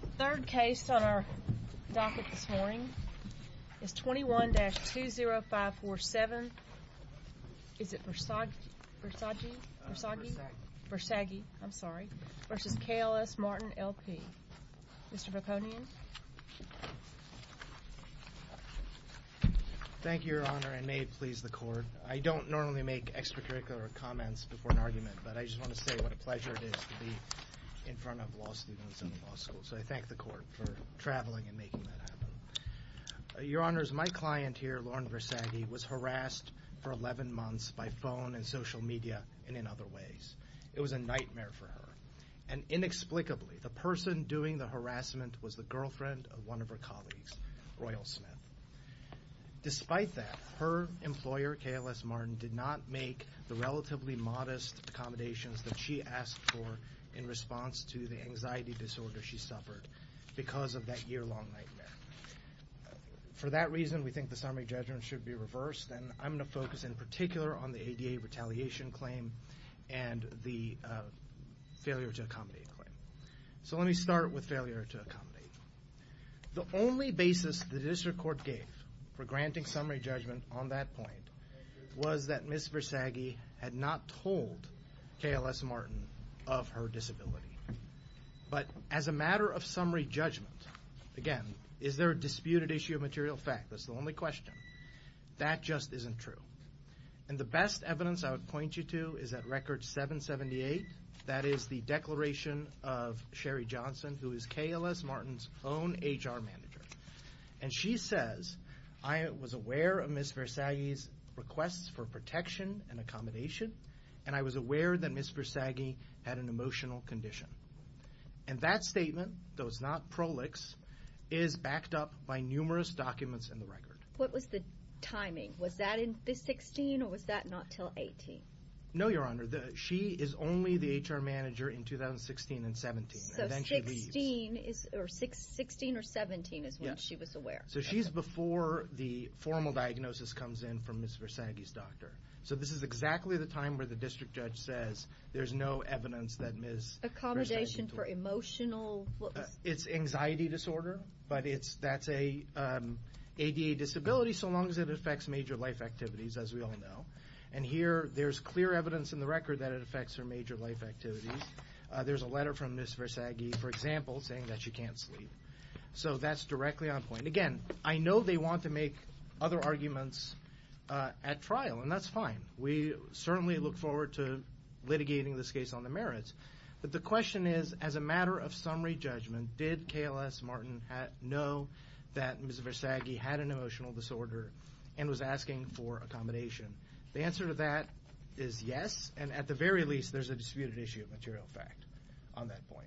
The third case on our docket this morning is 21-20547 Versaggi v. KLS Martin, L.P. Mr. Veponian Thank you, Your Honor, and may it please the Court. I don't normally make extracurricular comments before an argument, but I just want to say what a pleasure it is to be in front of law students in the law school. So I thank the Court for traveling and making that happen. Your Honors, my client here, Lauren Versaggi, was harassed for 11 months by phone and social media and in other ways. It was a nightmare for her. And inexplicably, the person doing the harassment was the girlfriend of one of her colleagues, Royal Smith. Despite that, her employer, KLS Martin, did not make the relatively modest accommodations that she asked for in response to the anxiety disorder she suffered because of that year-long nightmare. For that reason, we think the summary judgment should be reversed, and I'm going to focus in particular on the ADA retaliation claim and the failure to accommodate claim. So let me start with failure to accommodate. The only basis the District Court gave for granting summary judgment on that point was that Ms. Versaggi had not told KLS Martin of her disability. But as a matter of summary judgment, again, is there a disputed issue of material fact? That's the only question. That just isn't true. And the best evidence I would point you to is at Record 778, that is the declaration of Sherry Johnson, who is KLS Martin's own HR manager. And she says, I was aware of Ms. Versaggi's requests for protection and accommodation, and I was aware that Ms. Versaggi had an emotional condition. And that statement, though it's not prolix, is backed up by numerous documents in the Record. What was the timing? Was that in 16, or was that not until 18? No, Your Honor. She is only the HR manager in 2016 and 17. So 16 or 17 is when she was aware. So she's before the formal diagnosis comes in from Ms. Versaggi's doctor. So this is exactly the time where the district judge says there's no evidence that Ms. Versaggi. Accommodation for emotional? It's anxiety disorder, but that's an ADA disability, so long as it affects major life activities, as we all know. And here there's clear evidence in the Record that it affects her major life activities. There's a letter from Ms. Versaggi, for example, saying that she can't sleep. So that's directly on point. Again, I know they want to make other arguments at trial, and that's fine. We certainly look forward to litigating this case on the merits. But the question is, as a matter of summary judgment, did KLS Martin know that Ms. Versaggi had an emotional disorder and was asking for accommodation? The answer to that is yes, and at the very least, there's a disputed issue of material fact on that point.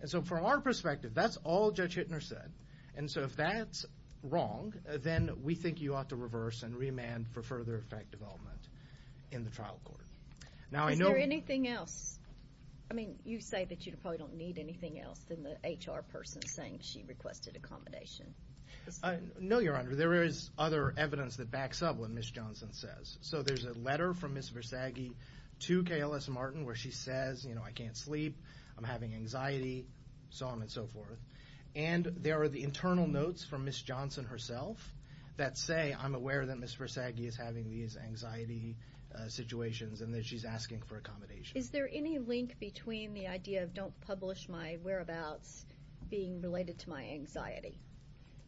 And so from our perspective, that's all Judge Hittner said. And so if that's wrong, then we think you ought to reverse and remand for further effect development in the trial court. Is there anything else? I mean, you say that you probably don't need anything else than the HR person saying she requested accommodation. No, Your Honor. There is other evidence that backs up what Ms. Johnson says. So there's a letter from Ms. Versaggi to KLS Martin where she says, you know, I can't sleep, I'm having anxiety, so on and so forth. And there are the internal notes from Ms. Johnson herself that say, I'm aware that Ms. Versaggi is having these anxiety situations and that she's asking for accommodation. Is there any link between the idea of don't publish my whereabouts being related to my anxiety?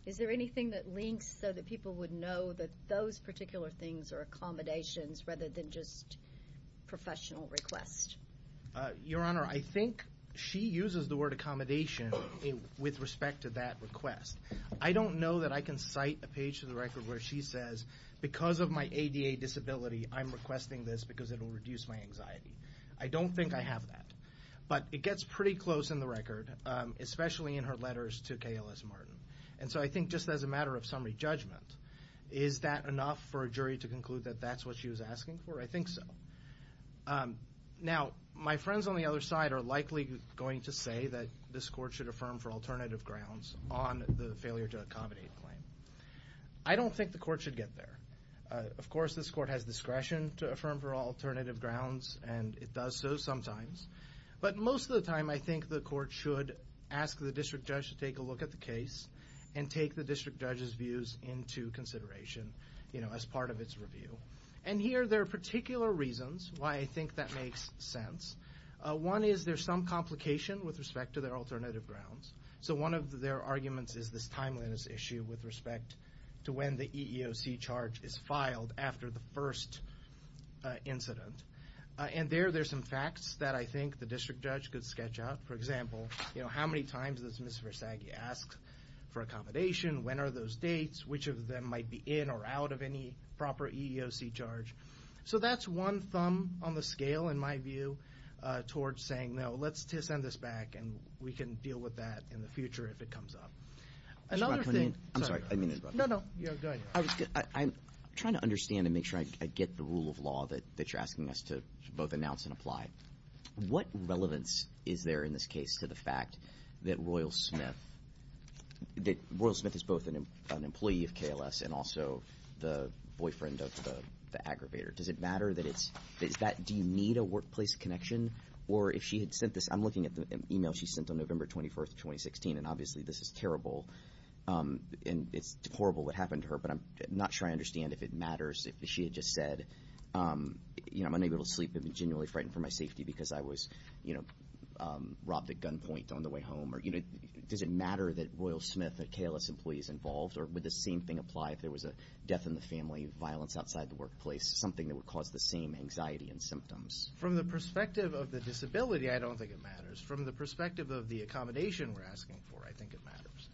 Is there anything that links so that people would know that those particular things are accommodations rather than just professional requests? Your Honor, I think she uses the word accommodation with respect to that request. I don't know that I can cite a page to the record where she says, because of my ADA disability, I'm requesting this because it will reduce my anxiety. I don't think I have that. But it gets pretty close in the record, especially in her letters to KLS Martin. And so I think just as a matter of summary judgment, is that enough for a jury to conclude that that's what she was asking for? I think so. Now, my friends on the other side are likely going to say that this court should affirm for alternative grounds on the failure to accommodate claim. I don't think the court should get there. Of course, this court has discretion to affirm for alternative grounds, and it does so sometimes. But most of the time, I think the court should ask the district judge to take a look at the case and take the district judge's views into consideration as part of its review. And here there are particular reasons why I think that makes sense. One is there's some complication with respect to their alternative grounds. So one of their arguments is this timeliness issue with respect to when the EEOC charge is filed after the first incident. And there there's some facts that I think the district judge could sketch out. For example, how many times does Ms. Versaghi ask for accommodation? When are those dates? Which of them might be in or out of any proper EEOC charge? So that's one thumb on the scale, in my view, towards saying, well, no, let's just send this back, and we can deal with that in the future if it comes up. Another thing. I'm sorry. No, no. Go ahead. I'm trying to understand and make sure I get the rule of law that you're asking us to both announce and apply. What relevance is there in this case to the fact that Royal Smith is both an employee of KLS and also the boyfriend of the aggravator? Does it matter? Do you need a workplace connection? Or if she had sent this, I'm looking at the e-mail she sent on November 24th, 2016, and obviously this is terrible, and it's horrible what happened to her, but I'm not sure I understand if it matters if she had just said, you know, I'm unable to sleep. I've been genuinely frightened for my safety because I was, you know, robbed at gunpoint on the way home. Does it matter that Royal Smith, a KLS employee, is involved? Or would the same thing apply if there was a death in the family, violence outside the workplace, something that would cause the same anxiety and symptoms? From the perspective of the disability, I don't think it matters. From the perspective of the accommodation we're asking for, I think it matters.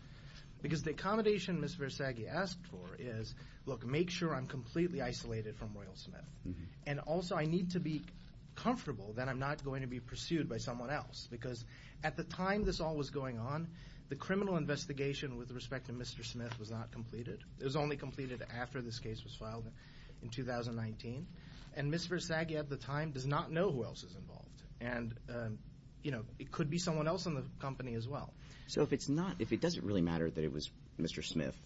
Because the accommodation Ms. Versaghi asked for is, look, make sure I'm completely isolated from Royal Smith. And also I need to be comfortable that I'm not going to be pursued by someone else because at the time this all was going on, the criminal investigation with respect to Mr. Smith was not completed. It was only completed after this case was filed in 2019. And Ms. Versaghi at the time does not know who else is involved. And, you know, it could be someone else in the company as well. So if it's not, if it doesn't really matter that it was Mr. Smith,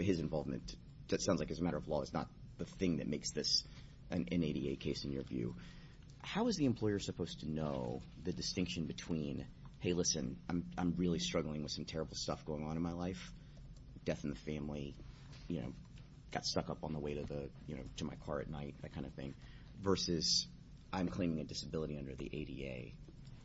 his involvement, that sounds like it's a matter of law, it's not the thing that makes this an NADA case in your view, how is the employer supposed to know the distinction between, hey, listen, I'm really struggling with some terrible stuff going on in my life, death in the family, got stuck up on the way to my car at night, that kind of thing, versus I'm claiming a disability under the ADA.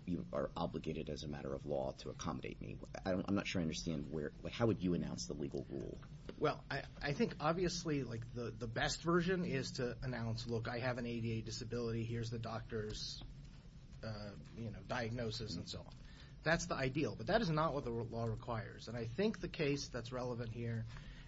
You are obligated as a matter of law to accommodate me. I'm not sure I understand where, how would you announce the legal rule? Well, I think obviously, like, the best version is to announce, look, I have an ADA disability, here's the doctor's, you know, diagnosis and so on. That's the ideal. But that is not what the law requires. And I think the case that's relevant here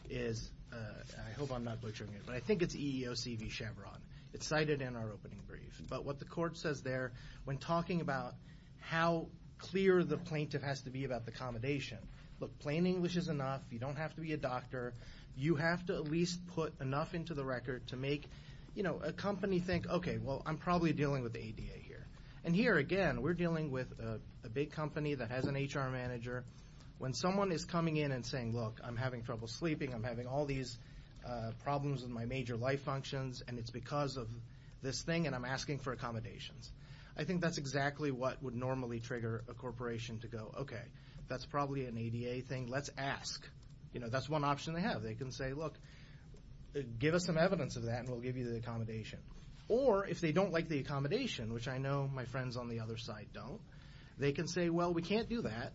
is, I hope I'm not butchering it, but I think it's EEOC v. Chevron. It's cited in our opening brief. But what the court says there when talking about how clear the plaintiff has to be about the accommodation, look, plain English is enough, you don't have to be a doctor, you have to at least put enough into the record to make, you know, a company think, okay, well, I'm probably dealing with the ADA here. And here, again, we're dealing with a big company that has an HR manager. When someone is coming in and saying, look, I'm having trouble sleeping, I'm having all these problems with my major life functions, and it's because of this thing, and I'm asking for accommodations, I think that's exactly what would normally trigger a corporation to go, okay, that's probably an ADA thing, let's ask. You know, that's one option they have. They can say, look, give us some evidence of that and we'll give you the accommodation. Or if they don't like the accommodation, which I know my friends on the other side don't, they can say, well, we can't do that,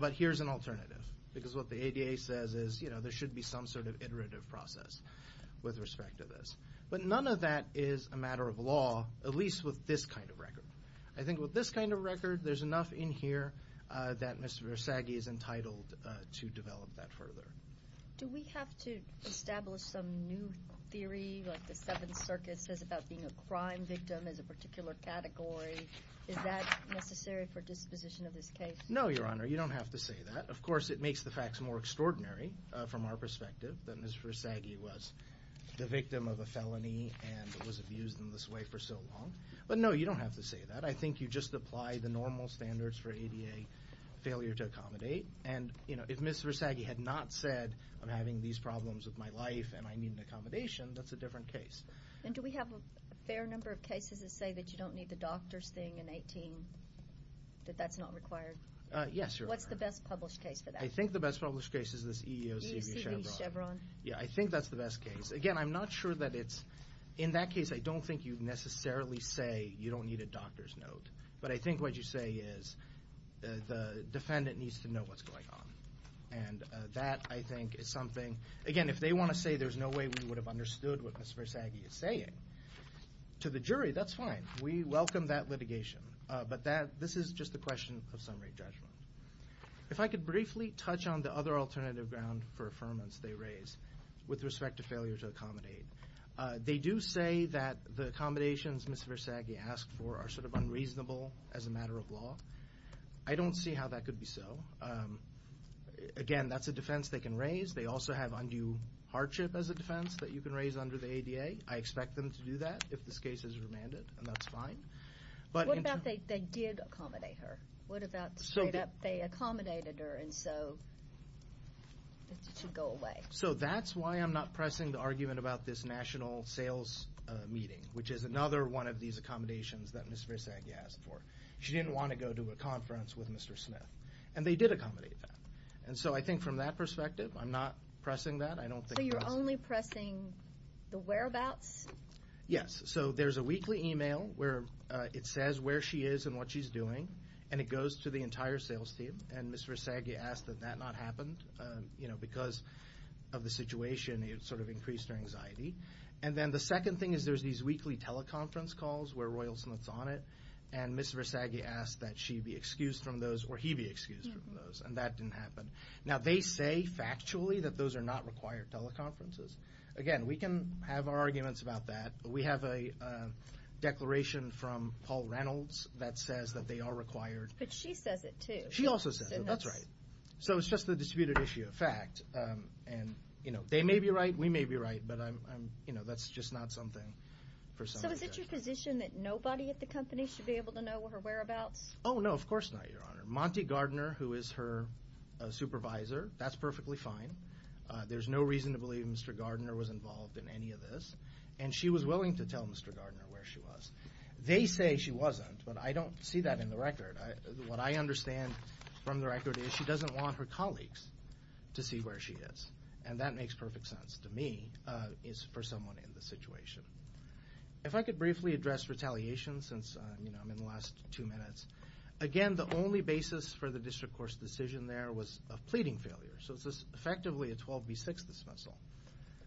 but here's an alternative. Because what the ADA says is, you know, there should be some sort of iterative process with respect to this. But none of that is a matter of law, at least with this kind of record. I think with this kind of record, there's enough in here that Mr. Versaghi is entitled to develop that further. Do we have to establish some new theory, like the Seventh Circuit says, about being a crime victim as a particular category? Is that necessary for disposition of this case? No, Your Honor, you don't have to say that. Of course, it makes the facts more extraordinary from our perspective that Mr. Versaghi was the victim of a felony and was abused in this way for so long. But no, you don't have to say that. I think you just apply the normal standards for ADA failure to accommodate. And, you know, if Mr. Versaghi had not said, I'm having these problems with my life and I need an accommodation, that's a different case. And do we have a fair number of cases that say that you don't need the doctor's thing in 18, that that's not required? Yes, Your Honor. What's the best published case for that? I think the best published case is this EEOC v. Chevron. EEOC v. Chevron. Yeah, I think that's the best case. Again, I'm not sure that it's – in that case, I don't think you necessarily say you don't need a doctor's note. But I think what you say is the defendant needs to know what's going on. And that, I think, is something – again, if they want to say there's no way we would have understood what Mr. Versaghi is saying, to the jury, that's fine. We welcome that litigation. But this is just a question of summary judgment. If I could briefly touch on the other alternative ground for affirmance they raise with respect to failure to accommodate. They do say that the accommodations Mr. Versaghi asked for are sort of unreasonable as a matter of law. I don't see how that could be so. Again, that's a defense they can raise. They also have undue hardship as a defense that you can raise under the ADA. I expect them to do that if this case is remanded, and that's fine. What about they did accommodate her? What about straight up they accommodated her, and so it should go away? So that's why I'm not pressing the argument about this national sales meeting, which is another one of these accommodations that Mr. Versaghi asked for. She didn't want to go to a conference with Mr. Smith. And they did accommodate that. And so I think from that perspective, I'm not pressing that. So you're only pressing the whereabouts? Yes. So there's a weekly email where it says where she is and what she's doing. And it goes to the entire sales team. And Mr. Versaghi asked that that not happen because of the situation. It sort of increased her anxiety. And then the second thing is there's these weekly teleconference calls where Royal Smith's on it. And Mr. Versaghi asked that she be excused from those or he be excused from those, and that didn't happen. Now, they say factually that those are not required teleconferences. Again, we can have our arguments about that. We have a declaration from Paul Reynolds that says that they are required. But she says it too. She also says it. That's right. So it's just a disputed issue of fact. And, you know, they may be right. We may be right. But, you know, that's just not something for somebody to. So is it your position that nobody at the company should be able to know her whereabouts? Oh, no, of course not, Your Honor. Monty Gardner, who is her supervisor, that's perfectly fine. There's no reason to believe Mr. Gardner was involved in any of this. And she was willing to tell Mr. Gardner where she was. They say she wasn't, but I don't see that in the record. What I understand from the record is she doesn't want her colleagues to see where she is. And that makes perfect sense to me is for someone in this situation. If I could briefly address retaliation since, you know, I'm in the last two minutes. Again, the only basis for the district court's decision there was a pleading failure. So it's effectively a 12B6 dismissal.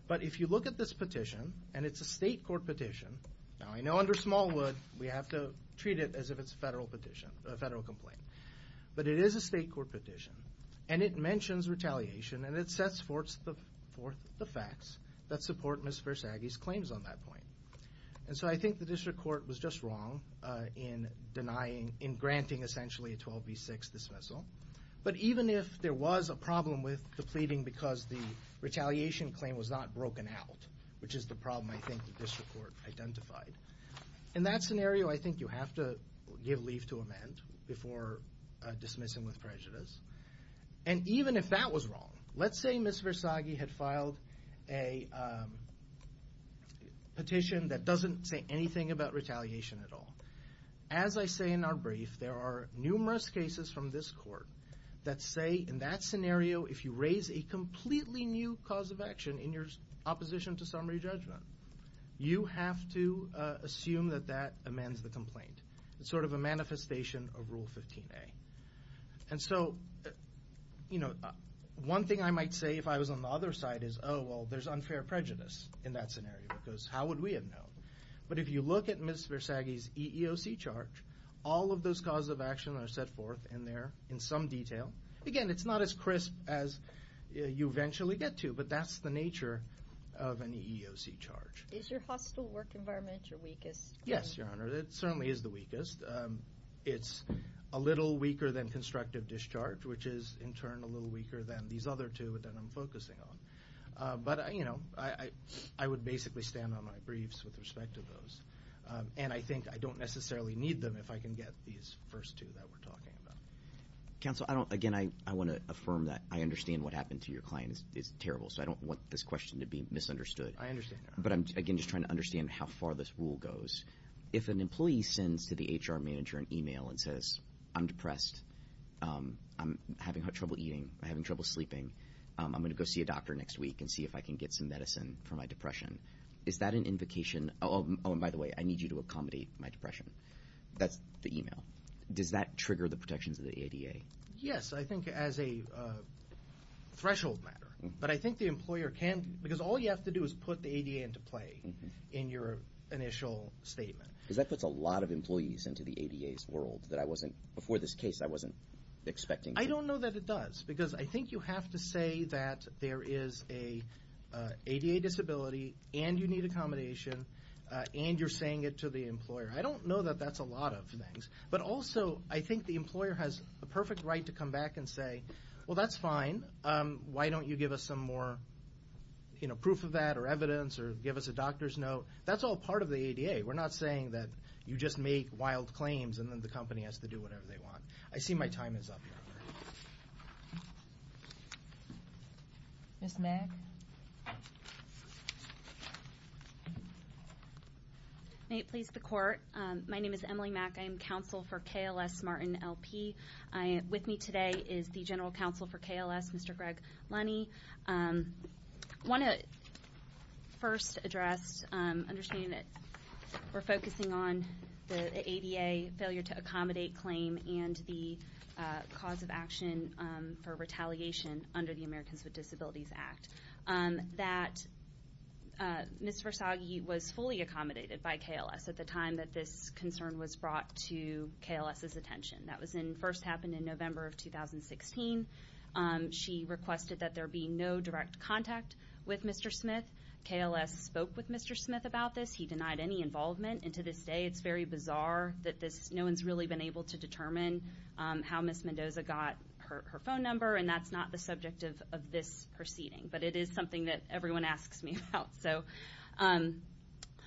But if you look at this petition, and it's a state court petition. Now, I know under Smallwood we have to treat it as if it's a federal petition, a federal complaint. But it is a state court petition. And it mentions retaliation, and it sets forth the facts that support Ms. Versaghi's claims on that point. And so I think the district court was just wrong in denying, in granting, essentially, a 12B6 dismissal. But even if there was a problem with the pleading because the retaliation claim was not broken out, which is the problem I think the district court identified. In that scenario, I think you have to give leave to amend before dismissing with prejudice. And even if that was wrong, let's say Ms. Versaghi had filed a petition that doesn't say anything about retaliation at all. As I say in our brief, there are numerous cases from this court that say in that scenario, if you raise a completely new cause of action in your opposition to summary judgment, you have to assume that that amends the complaint. It's sort of a manifestation of Rule 15A. And so, you know, one thing I might say if I was on the other side is, oh, well, there's unfair prejudice in that scenario. Because how would we have known? But if you look at Ms. Versaghi's EEOC charge, all of those causes of action are set forth in there in some detail. Again, it's not as crisp as you eventually get to, but that's the nature of an EEOC charge. Is your hostile work environment your weakest? Yes, Your Honor. It certainly is the weakest. It's a little weaker than constructive discharge, which is in turn a little weaker than these other two that I'm focusing on. But, you know, I would basically stand on my briefs with respect to those. And I think I don't necessarily need them if I can get these first two that we're talking about. Counsel, again, I want to affirm that I understand what happened to your client is terrible, so I don't want this question to be misunderstood. I understand, Your Honor. But I'm, again, just trying to understand how far this rule goes. If an employee sends to the HR manager an e-mail and says, I'm depressed, I'm having trouble eating, I'm having trouble sleeping, I'm going to go see a doctor next week and see if I can get some medicine for my depression, is that an invocation? Oh, and by the way, I need you to accommodate my depression. That's the e-mail. Does that trigger the protections of the ADA? Yes, I think as a threshold matter. But I think the employer can't, because all you have to do is put the ADA into play in your initial statement. Because that puts a lot of employees into the ADA's world that I wasn't, before this case, I wasn't expecting. I don't know that it does, because I think you have to say that there is an ADA disability, and you need accommodation, and you're saying it to the employer. I don't know that that's a lot of things. But also, I think the employer has a perfect right to come back and say, well, that's fine. Why don't you give us some more, you know, proof of that or evidence or give us a doctor's note? That's all part of the ADA. We're not saying that you just make wild claims and then the company has to do whatever they want. I see my time is up now. Ms. Mack? May it please the Court. My name is Emily Mack. I am counsel for KLS Martin L.P. With me today is the general counsel for KLS, Mr. Greg Lunney. I want to first address, understanding that we're focusing on the ADA failure to accommodate claim and the cause of action for retaliation under the Americans with Disabilities Act, that Ms. Versaghi was fully accommodated by KLS at the time that this concern was brought to KLS's attention. That first happened in November of 2016. She requested that there be no direct contact with Mr. Smith. KLS spoke with Mr. Smith about this. He denied any involvement, and to this day it's very bizarre that no one's really been able to determine how Ms. Mendoza got her phone number, and that's not the subject of this proceeding. But it is something that everyone asks me about.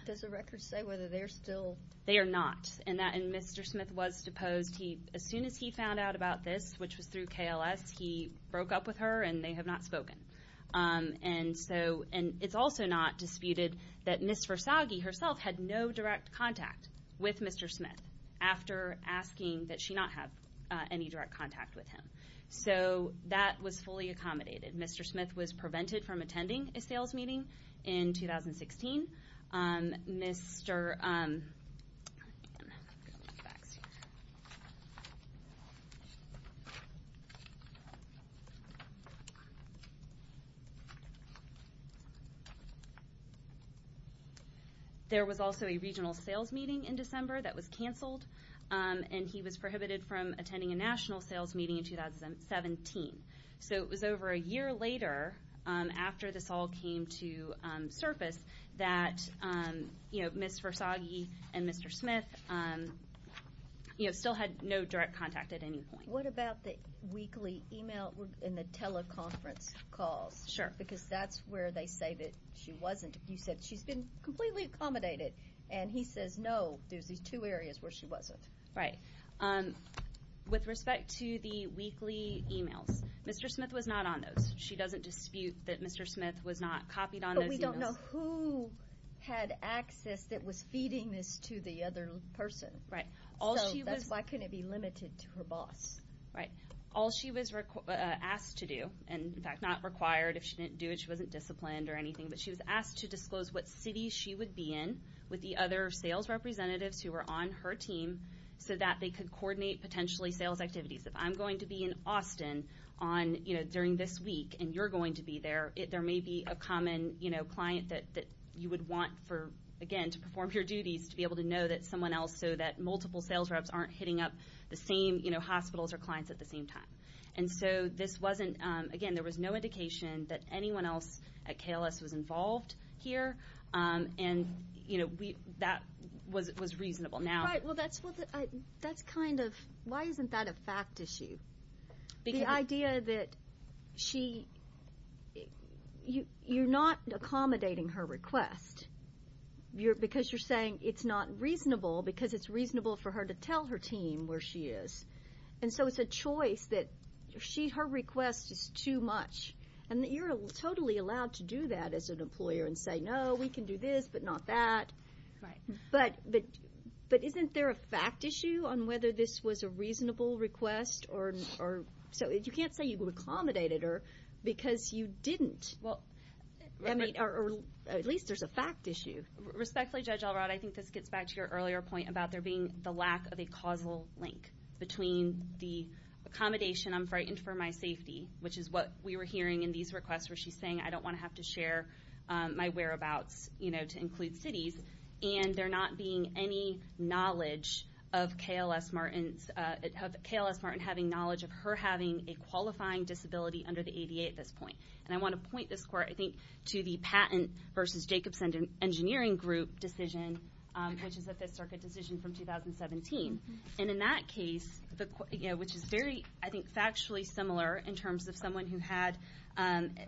Does the record say whether they're still? They are not. And Mr. Smith was deposed. As soon as he found out about this, which was through KLS, he broke up with her, and they have not spoken. And it's also not disputed that Ms. Versaghi herself had no direct contact with Mr. Smith after asking that she not have any direct contact with him. So that was fully accommodated. Mr. Smith was prevented from attending a sales meeting in 2016. Mr. There was also a regional sales meeting in December that was canceled, and he was prohibited from attending a national sales meeting in 2017. So it was over a year later, after this all came to surface, that Ms. Versaghi and Mr. Smith still had no direct contact at any point. What about the weekly e-mail and the teleconference calls? Sure. Because that's where they say that she wasn't. You said she's been completely accommodated, and he says no. There's these two areas where she wasn't. Right. With respect to the weekly e-mails, Mr. Smith was not on those. She doesn't dispute that Mr. Smith was not copied on those e-mails. But we don't know who had access that was feeding this to the other person. Right. So that's why couldn't it be limited to her boss? Right. All she was asked to do, and, in fact, not required. If she didn't do it, she wasn't disciplined or anything, but she was asked to disclose what city she would be in with the other sales representatives who were on her team so that they could coordinate potentially sales activities. If I'm going to be in Austin during this week and you're going to be there, there may be a common client that you would want, again, to perform your duties, to be able to know that someone else, so that multiple sales reps aren't hitting up the same hospitals or clients at the same time. And so, again, there was no indication that anyone else at KLS was involved here. And, you know, that was reasonable. Right. Well, that's kind of why isn't that a fact issue? The idea that you're not accommodating her request because you're saying it's not reasonable because it's reasonable for her to tell her team where she is. And so it's a choice that her request is too much. And you're totally allowed to do that as an employer and say, no, we can do this, but not that. Right. But isn't there a fact issue on whether this was a reasonable request? So you can't say you accommodated her because you didn't. I mean, or at least there's a fact issue. Respectfully, Judge Elrod, I think this gets back to your earlier point about there being the lack of a causal link between the accommodation, I'm frightened for my safety, which is what we were hearing in these requests where she's saying, I don't want to have to share my whereabouts, you know, to include cities. And there not being any knowledge of KLS Martin having knowledge of her having a qualifying disability under the ADA at this point. And I want to point this court, I think, to the patent versus Jacobson Engineering Group decision, which is a Fifth Circuit decision from 2017. And in that case, which is very, I think, factually similar in terms of someone who had,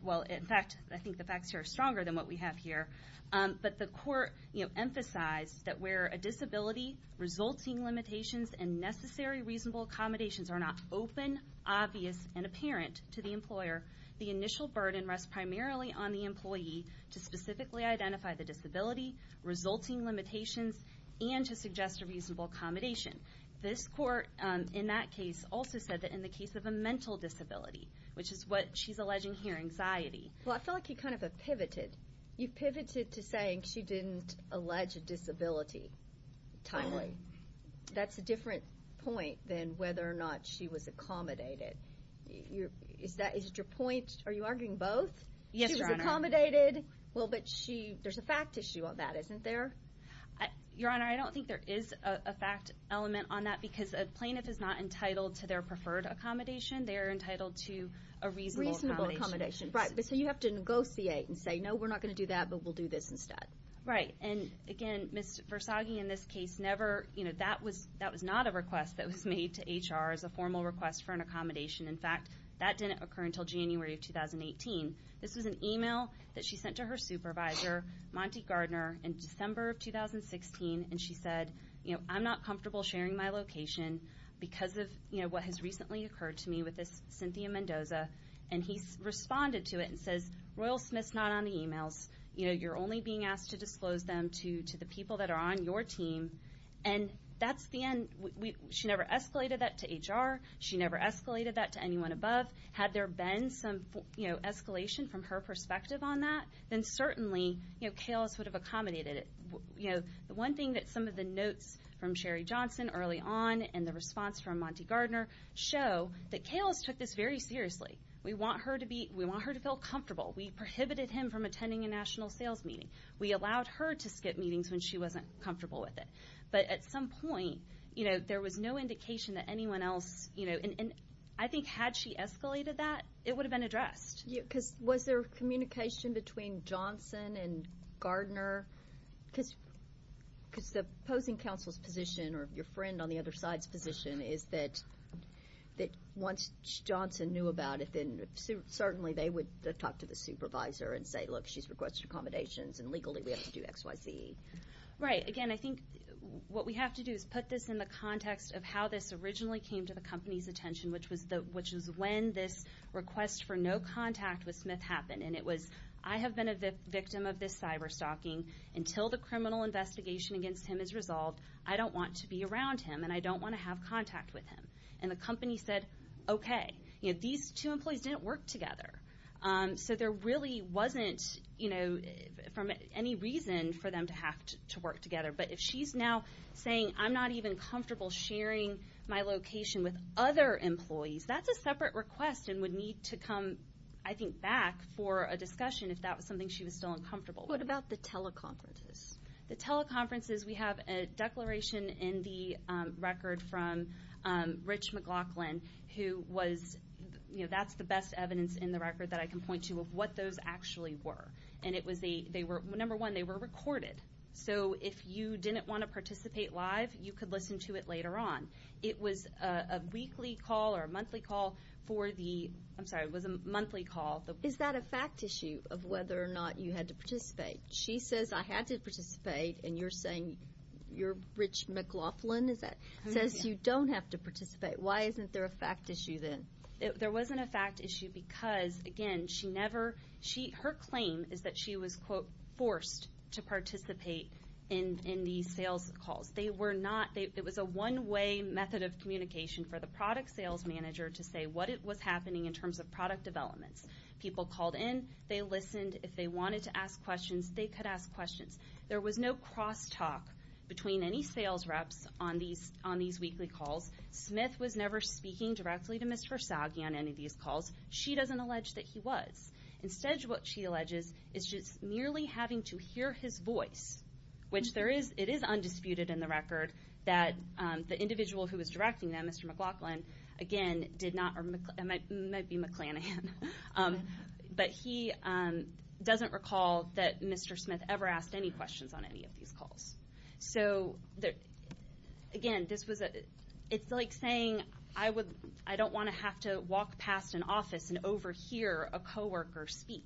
well, in fact, I think the facts here are stronger than what we have here. But the court emphasized that where a disability, resulting limitations, and necessary reasonable accommodations are not open, obvious, and apparent to the employer, the initial burden rests primarily on the employee to specifically identify the disability, resulting limitations, and to suggest a reasonable accommodation. This court in that case also said that in the case of a mental disability, which is what she's alleging here, anxiety. Well, I feel like you kind of have pivoted. You've pivoted to saying she didn't allege a disability timely. That's a different point than whether or not she was accommodated. Is that your point? Are you arguing both? Yes, Your Honor. She was accommodated. Well, but she, there's a fact issue on that, isn't there? Your Honor, I don't think there is a fact element on that because a plaintiff is not entitled to their preferred accommodation. They are entitled to a reasonable accommodation. Right, but so you have to negotiate and say, no, we're not going to do that, but we'll do this instead. Right, and again, Ms. Versaghi in this case never, you know, that was not a request that was made to HR as a formal request for an accommodation. In fact, that didn't occur until January of 2018. This was an email that she sent to her supervisor, Monty Gardner, in December of 2016, and she said, you know, I'm not comfortable sharing my location because of, you know, what has recently occurred to me with this Cynthia Mendoza, and he responded to it and says, Royal Smith's not on the emails. You know, you're only being asked to disclose them to the people that are on your team, and that's the end. She never escalated that to HR. She never escalated that to anyone above. Had there been some, you know, escalation from her perspective on that, then certainly, you know, Calis would have accommodated it. You know, the one thing that some of the notes from Sherry Johnson early on and the response from Monty Gardner show that Calis took this very seriously. We want her to feel comfortable. We prohibited him from attending a national sales meeting. We allowed her to skip meetings when she wasn't comfortable with it. But at some point, you know, there was no indication that anyone else, you know, and I think had she escalated that, it would have been addressed. Yeah, because was there communication between Johnson and Gardner? Because the opposing counsel's position or your friend on the other side's position is that once Johnson knew about it, then certainly they would talk to the supervisor and say, Look, she's requested accommodations, and legally we have to do X, Y, Z. Right. Again, I think what we have to do is put this in the context of how this originally came to the company's attention, which was when this request for no contact with Smith happened. And it was, I have been a victim of this cyber stalking. Until the criminal investigation against him is resolved, I don't want to be around him, and I don't want to have contact with him. And the company said, Okay. These two employees didn't work together. So there really wasn't, you know, any reason for them to have to work together. But if she's now saying, I'm not even comfortable sharing my location with other employees, that's a separate request and would need to come, I think, back for a discussion if that was something she was still uncomfortable with. What about the teleconferences? The teleconferences, we have a declaration in the record from Rich McLaughlin, who was, you know, that's the best evidence in the record that I can point to of what those actually were. And it was they were, number one, they were recorded. So if you didn't want to participate live, you could listen to it later on. It was a weekly call or a monthly call for the, I'm sorry, it was a monthly call. Is that a fact issue of whether or not you had to participate? She says, I had to participate, and you're saying you're Rich McLaughlin, is that? Says you don't have to participate. Why isn't there a fact issue then? There wasn't a fact issue because, again, she never, her claim is that she was, quote, forced to participate in these sales calls. They were not, it was a one-way method of communication for the product sales manager to say what was happening in terms of product developments. People called in. They listened. If they wanted to ask questions, they could ask questions. There was no crosstalk between any sales reps on these weekly calls. Smith was never speaking directly to Ms. Versaghi on any of these calls. She doesn't allege that he was. Instead, what she alleges is just merely having to hear his voice, which it is undisputed in the record that the individual who was directing them, Mr. McLaughlin, again, did not, or it might be McClanahan, but he doesn't recall that Mr. Smith ever asked any questions on any of these calls. So, again, it's like saying I don't want to have to walk past an office and overhear a co-worker speak.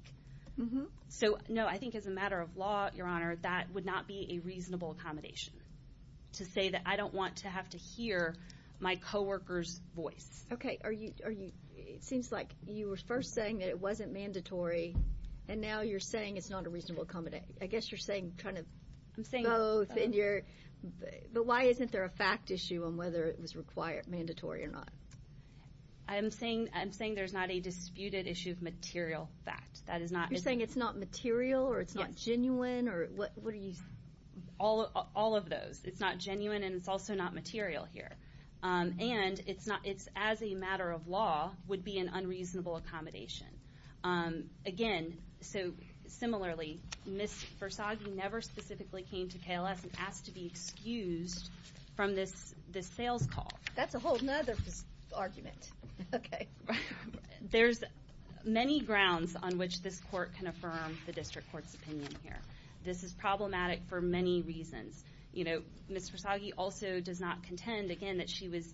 So, no, I think as a matter of law, Your Honor, that would not be a reasonable accommodation to say that I don't want to have to hear my co-worker's voice. Okay. It seems like you were first saying that it wasn't mandatory, and now you're saying it's not a reasonable accommodation. I guess you're saying kind of both. But why isn't there a fact issue on whether it was required, mandatory or not? I'm saying there's not a disputed issue of material fact. You're saying it's not material or it's not genuine? All of those. It's not genuine and it's also not material here. And it's as a matter of law would be an unreasonable accommodation. Again, so similarly, Ms. Versagi never specifically came to KLS and asked to be excused from this sales call. That's a whole other argument. Okay. There's many grounds on which this court can affirm the district court's opinion here. This is problematic for many reasons. Ms. Versagi also does not contend, again, that she was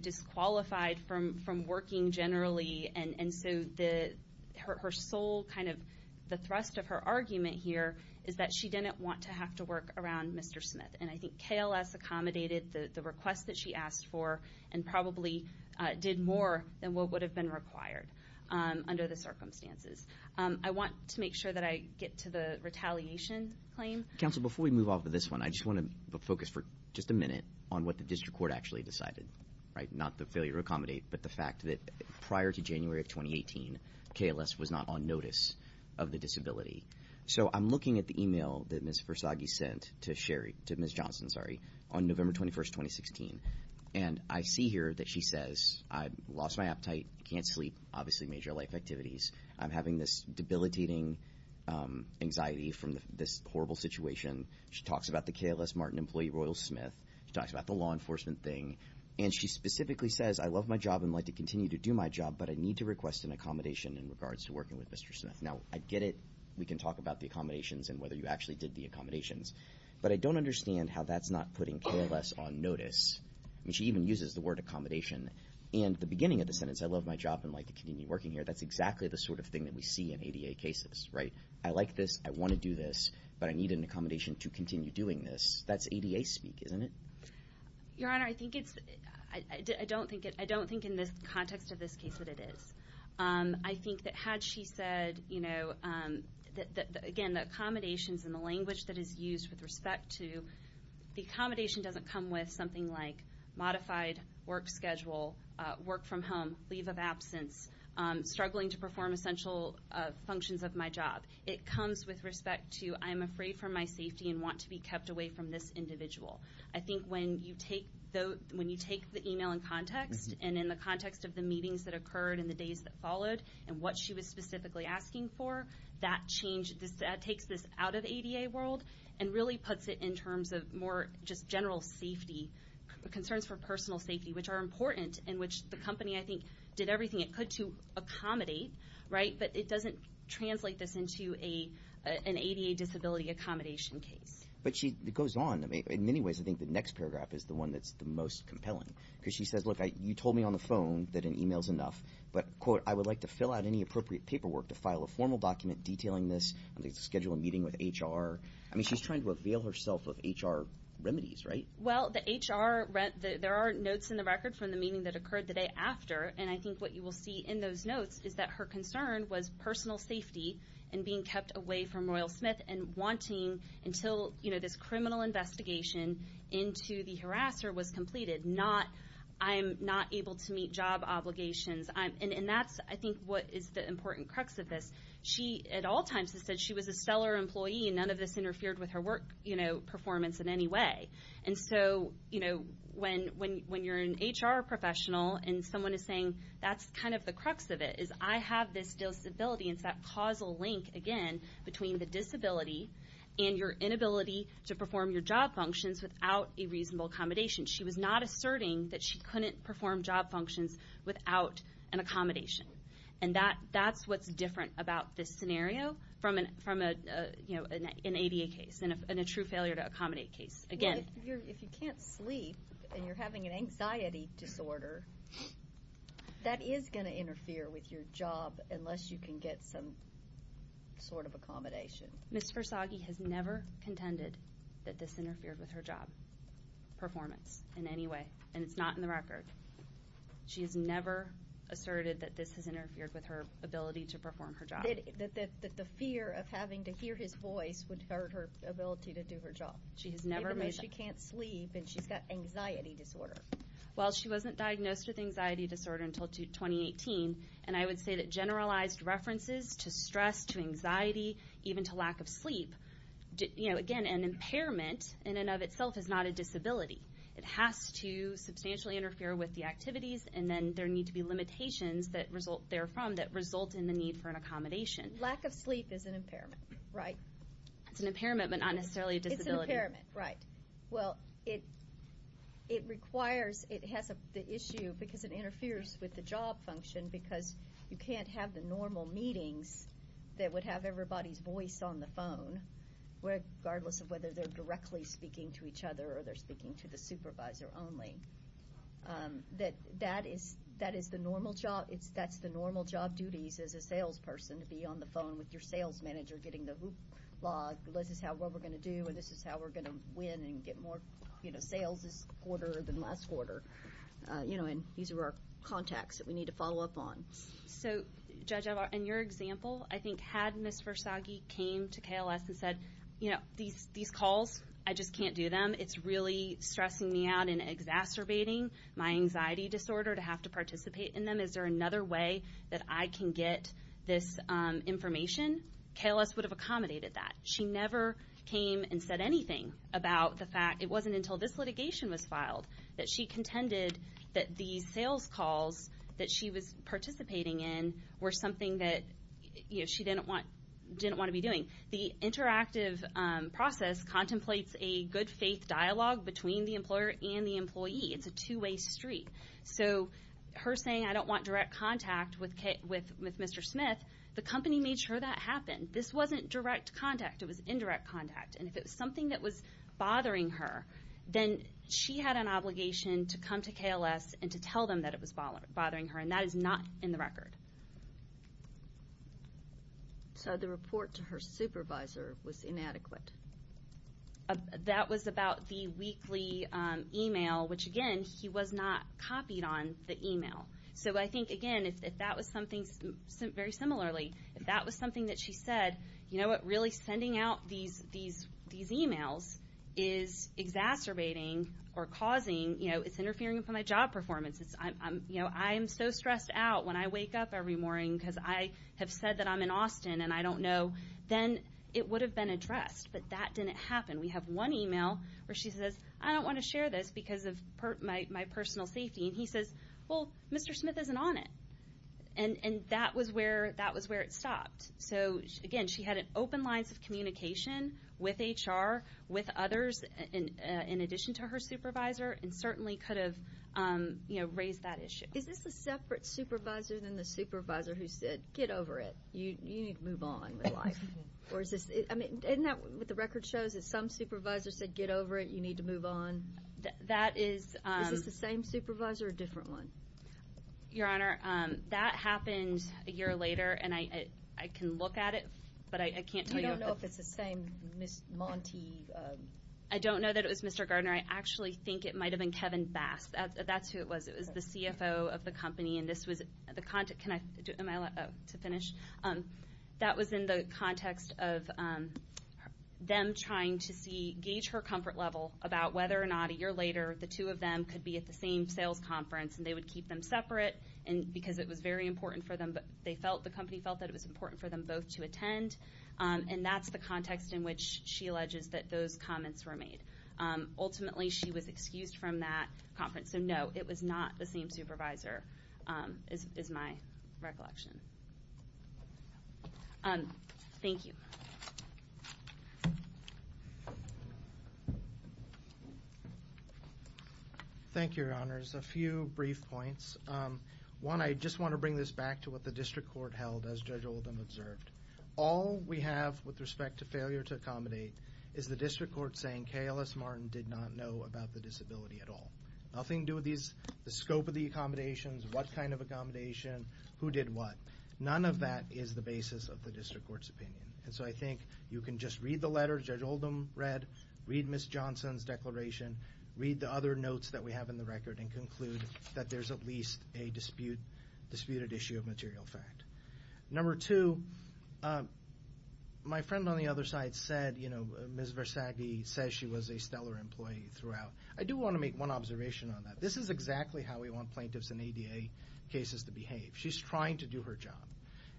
disqualified from working generally, and so her sole kind of thrust of her argument here is that she didn't want to have to work around Mr. Smith. And I think KLS accommodated the request that she asked for and probably did more than what would have been required under the circumstances. I want to make sure that I get to the retaliation claim. Counsel, before we move on to this one, I just want to focus for just a minute on what the district court actually decided, right, and not the failure to accommodate, but the fact that prior to January of 2018, KLS was not on notice of the disability. So I'm looking at the email that Ms. Versagi sent to Ms. Johnson on November 21, 2016, and I see here that she says, I've lost my appetite, can't sleep, obviously major life activities. I'm having this debilitating anxiety from this horrible situation. She talks about the KLS Martin employee, Royal Smith. She talks about the law enforcement thing. And she specifically says, I love my job and would like to continue to do my job, but I need to request an accommodation in regards to working with Mr. Smith. Now, I get it. We can talk about the accommodations and whether you actually did the accommodations. But I don't understand how that's not putting KLS on notice. I mean, she even uses the word accommodation. And at the beginning of the sentence, I love my job and would like to continue working here, that's exactly the sort of thing that we see in ADA cases, right? I like this. I want to do this. But I need an accommodation to continue doing this. That's ADA speak, isn't it? Your Honor, I don't think in the context of this case that it is. I think that had she said, you know, again, the accommodations and the language that is used with respect to the accommodation doesn't come with something like modified work schedule, work from home, leave of absence, struggling to perform essential functions of my job. It comes with respect to I'm afraid for my safety and want to be kept away from this individual. I think when you take the e-mail in context and in the context of the meetings that occurred and the days that followed and what she was specifically asking for, that takes this out of the ADA world and really puts it in terms of more just general safety, concerns for personal safety, which are important and which the company, I think, did everything it could to accommodate, right? But it doesn't translate this into an ADA disability accommodation case. But it goes on. In many ways, I think the next paragraph is the one that's the most compelling because she says, look, you told me on the phone that an e-mail's enough, but, quote, I would like to fill out any appropriate paperwork to file a formal document detailing this. I'm going to schedule a meeting with HR. I mean, she's trying to avail herself of HR remedies, right? Well, the HR, there are notes in the record from the meeting that occurred the day after, and I think what you will see in those notes is that her concern was personal safety and being kept away from Royal Smith and wanting until, you know, this criminal investigation into the harasser was completed, not I'm not able to meet job obligations. And that's, I think, what is the important crux of this. She at all times has said she was a stellar employee, and none of this interfered with her work performance in any way. And so, you know, when you're an HR professional and someone is saying that's kind of the crux of it, is I have this disability, and it's that causal link, again, between the disability and your inability to perform your job functions without a reasonable accommodation. She was not asserting that she couldn't perform job functions without an accommodation. And that's what's different about this scenario from, you know, an ADA case and a true failure to accommodate case. If you can't sleep and you're having an anxiety disorder, that is going to interfere with your job unless you can get some sort of accommodation. Ms. Versaghi has never contended that this interfered with her job performance in any way, and it's not in the record. She has never asserted that this has interfered with her ability to perform her job. That the fear of having to hear his voice would hurt her ability to do her job. Even though she can't sleep and she's got anxiety disorder. Well, she wasn't diagnosed with anxiety disorder until 2018, and I would say that generalized references to stress, to anxiety, even to lack of sleep, you know, again, an impairment in and of itself is not a disability. It has to substantially interfere with the activities, and then there need to be limitations therefrom that result in the need for an accommodation. Lack of sleep is an impairment, right? It's an impairment, but not necessarily a disability. It's an impairment, right. Well, it requires, it has the issue because it interferes with the job function because you can't have the normal meetings that would have everybody's voice on the phone, regardless of whether they're directly speaking to each other or they're speaking to the supervisor only. That is the normal job. That's the normal job duties as a salesperson, to be on the phone with your sales manager getting the hoopla. This is what we're going to do, and this is how we're going to win and get more sales this quarter than last quarter. You know, and these are our contacts that we need to follow up on. So, Judge, in your example, I think had Ms. Versaghi came to KLS and said, you know, these calls, I just can't do them. It's really stressing me out and exacerbating my anxiety disorder to have to participate in them. Is there another way that I can get this information? KLS would have accommodated that. She never came and said anything about the fact it wasn't until this litigation was filed that she contended that these sales calls that she was participating in were something that, you know, she didn't want to be doing. The interactive process contemplates a good faith dialogue between the employer and the employee. It's a two-way street. So her saying, I don't want direct contact with Mr. Smith, the company made sure that happened. This wasn't direct contact. It was indirect contact. And if it was something that was bothering her, then she had an obligation to come to KLS and to tell them that it was bothering her, and that is not in the record. So the report to her supervisor was inadequate. That was about the weekly e-mail, which, again, he was not copied on the e-mail. So I think, again, if that was something very similarly, if that was something that she said, you know what, really sending out these e-mails is exacerbating or causing, you know, it's interfering with my job performance. I am so stressed out when I wake up every morning because I have said that I'm in Austin and I don't know. Then it would have been addressed. But that didn't happen. We have one e-mail where she says, I don't want to share this because of my personal safety. And he says, well, Mr. Smith isn't on it. And that was where it stopped. So, again, she had open lines of communication with HR, with others, in addition to her supervisor, and certainly could have, you know, raised that issue. Is this a separate supervisor than the supervisor who said, get over it. You need to move on with life. I mean, isn't that what the record shows, that some supervisor said, get over it. You need to move on. Is this the same supervisor or a different one? Your Honor, that happened a year later, and I can look at it, but I can't tell you. You don't know if it's the same Ms. Monti? I don't know that it was Mr. Gardner. I actually think it might have been Kevin Bass. That's who it was. It was the CFO of the company. Am I allowed to finish? That was in the context of them trying to gauge her comfort level about whether or not a year later the two of them could be at the same sales conference, and they would keep them separate because it was very important for them. The company felt that it was important for them both to attend, and that's the context in which she alleges that those comments were made. Ultimately, she was excused from that conference. So, no, it was not the same supervisor is my recollection. Thank you. Thank you, Your Honors. A few brief points. One, I just want to bring this back to what the district court held as Judge Oldham observed. All we have with respect to failure to accommodate is the district court saying KLS Martin did not know about the disability at all. Nothing to do with the scope of the accommodations, what kind of accommodation, who did what. None of that is the basis of the district court's opinion. And so I think you can just read the letter Judge Oldham read, read Ms. Johnson's declaration, read the other notes that we have in the record, and conclude that there's at least a disputed issue of material fact. Number two, my friend on the other side said, you know, Ms. Versagge says she was a stellar employee throughout. I do want to make one observation on that. This is exactly how we want plaintiffs in ADA cases to behave. She's trying to do her job,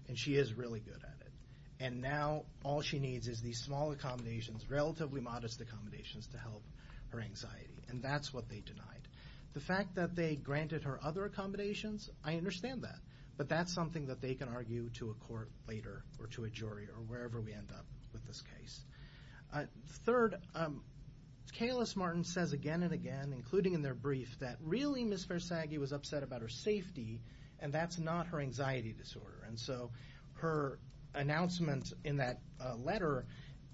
and she is really good at it. And now all she needs is these small accommodations, relatively modest accommodations, to help her anxiety. And that's what they denied. The fact that they granted her other accommodations, I understand that. But that's something that they can argue to a court later or to a jury or wherever we end up with this case. Third, Kalis Martin says again and again, including in their brief, that really Ms. Versagge was upset about her safety, and that's not her anxiety disorder. And so her announcement in that letter,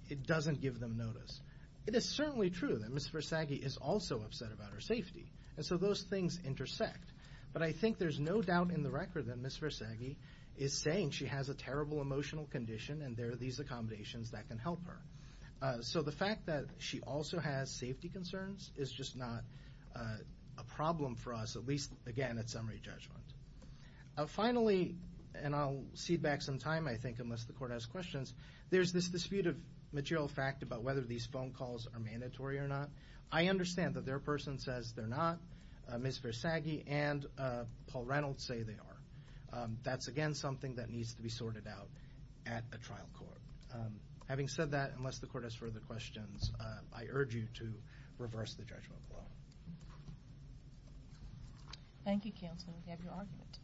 it doesn't give them notice. It is certainly true that Ms. Versagge is also upset about her safety. And so those things intersect. But I think there's no doubt in the record that Ms. Versagge is saying she has a terrible emotional condition and there are these accommodations that can help her. So the fact that she also has safety concerns is just not a problem for us, at least, again, at summary judgment. Finally, and I'll cede back some time, I think, unless the court has questions, there's this dispute of material fact about whether these phone calls are mandatory or not. I understand that their person says they're not. Ms. Versagge and Paul Reynolds say they are. That's, again, something that needs to be sorted out at a trial court. Having said that, unless the court has further questions, I urge you to reverse the judgment law. Thank you, counsel, and we have your argument.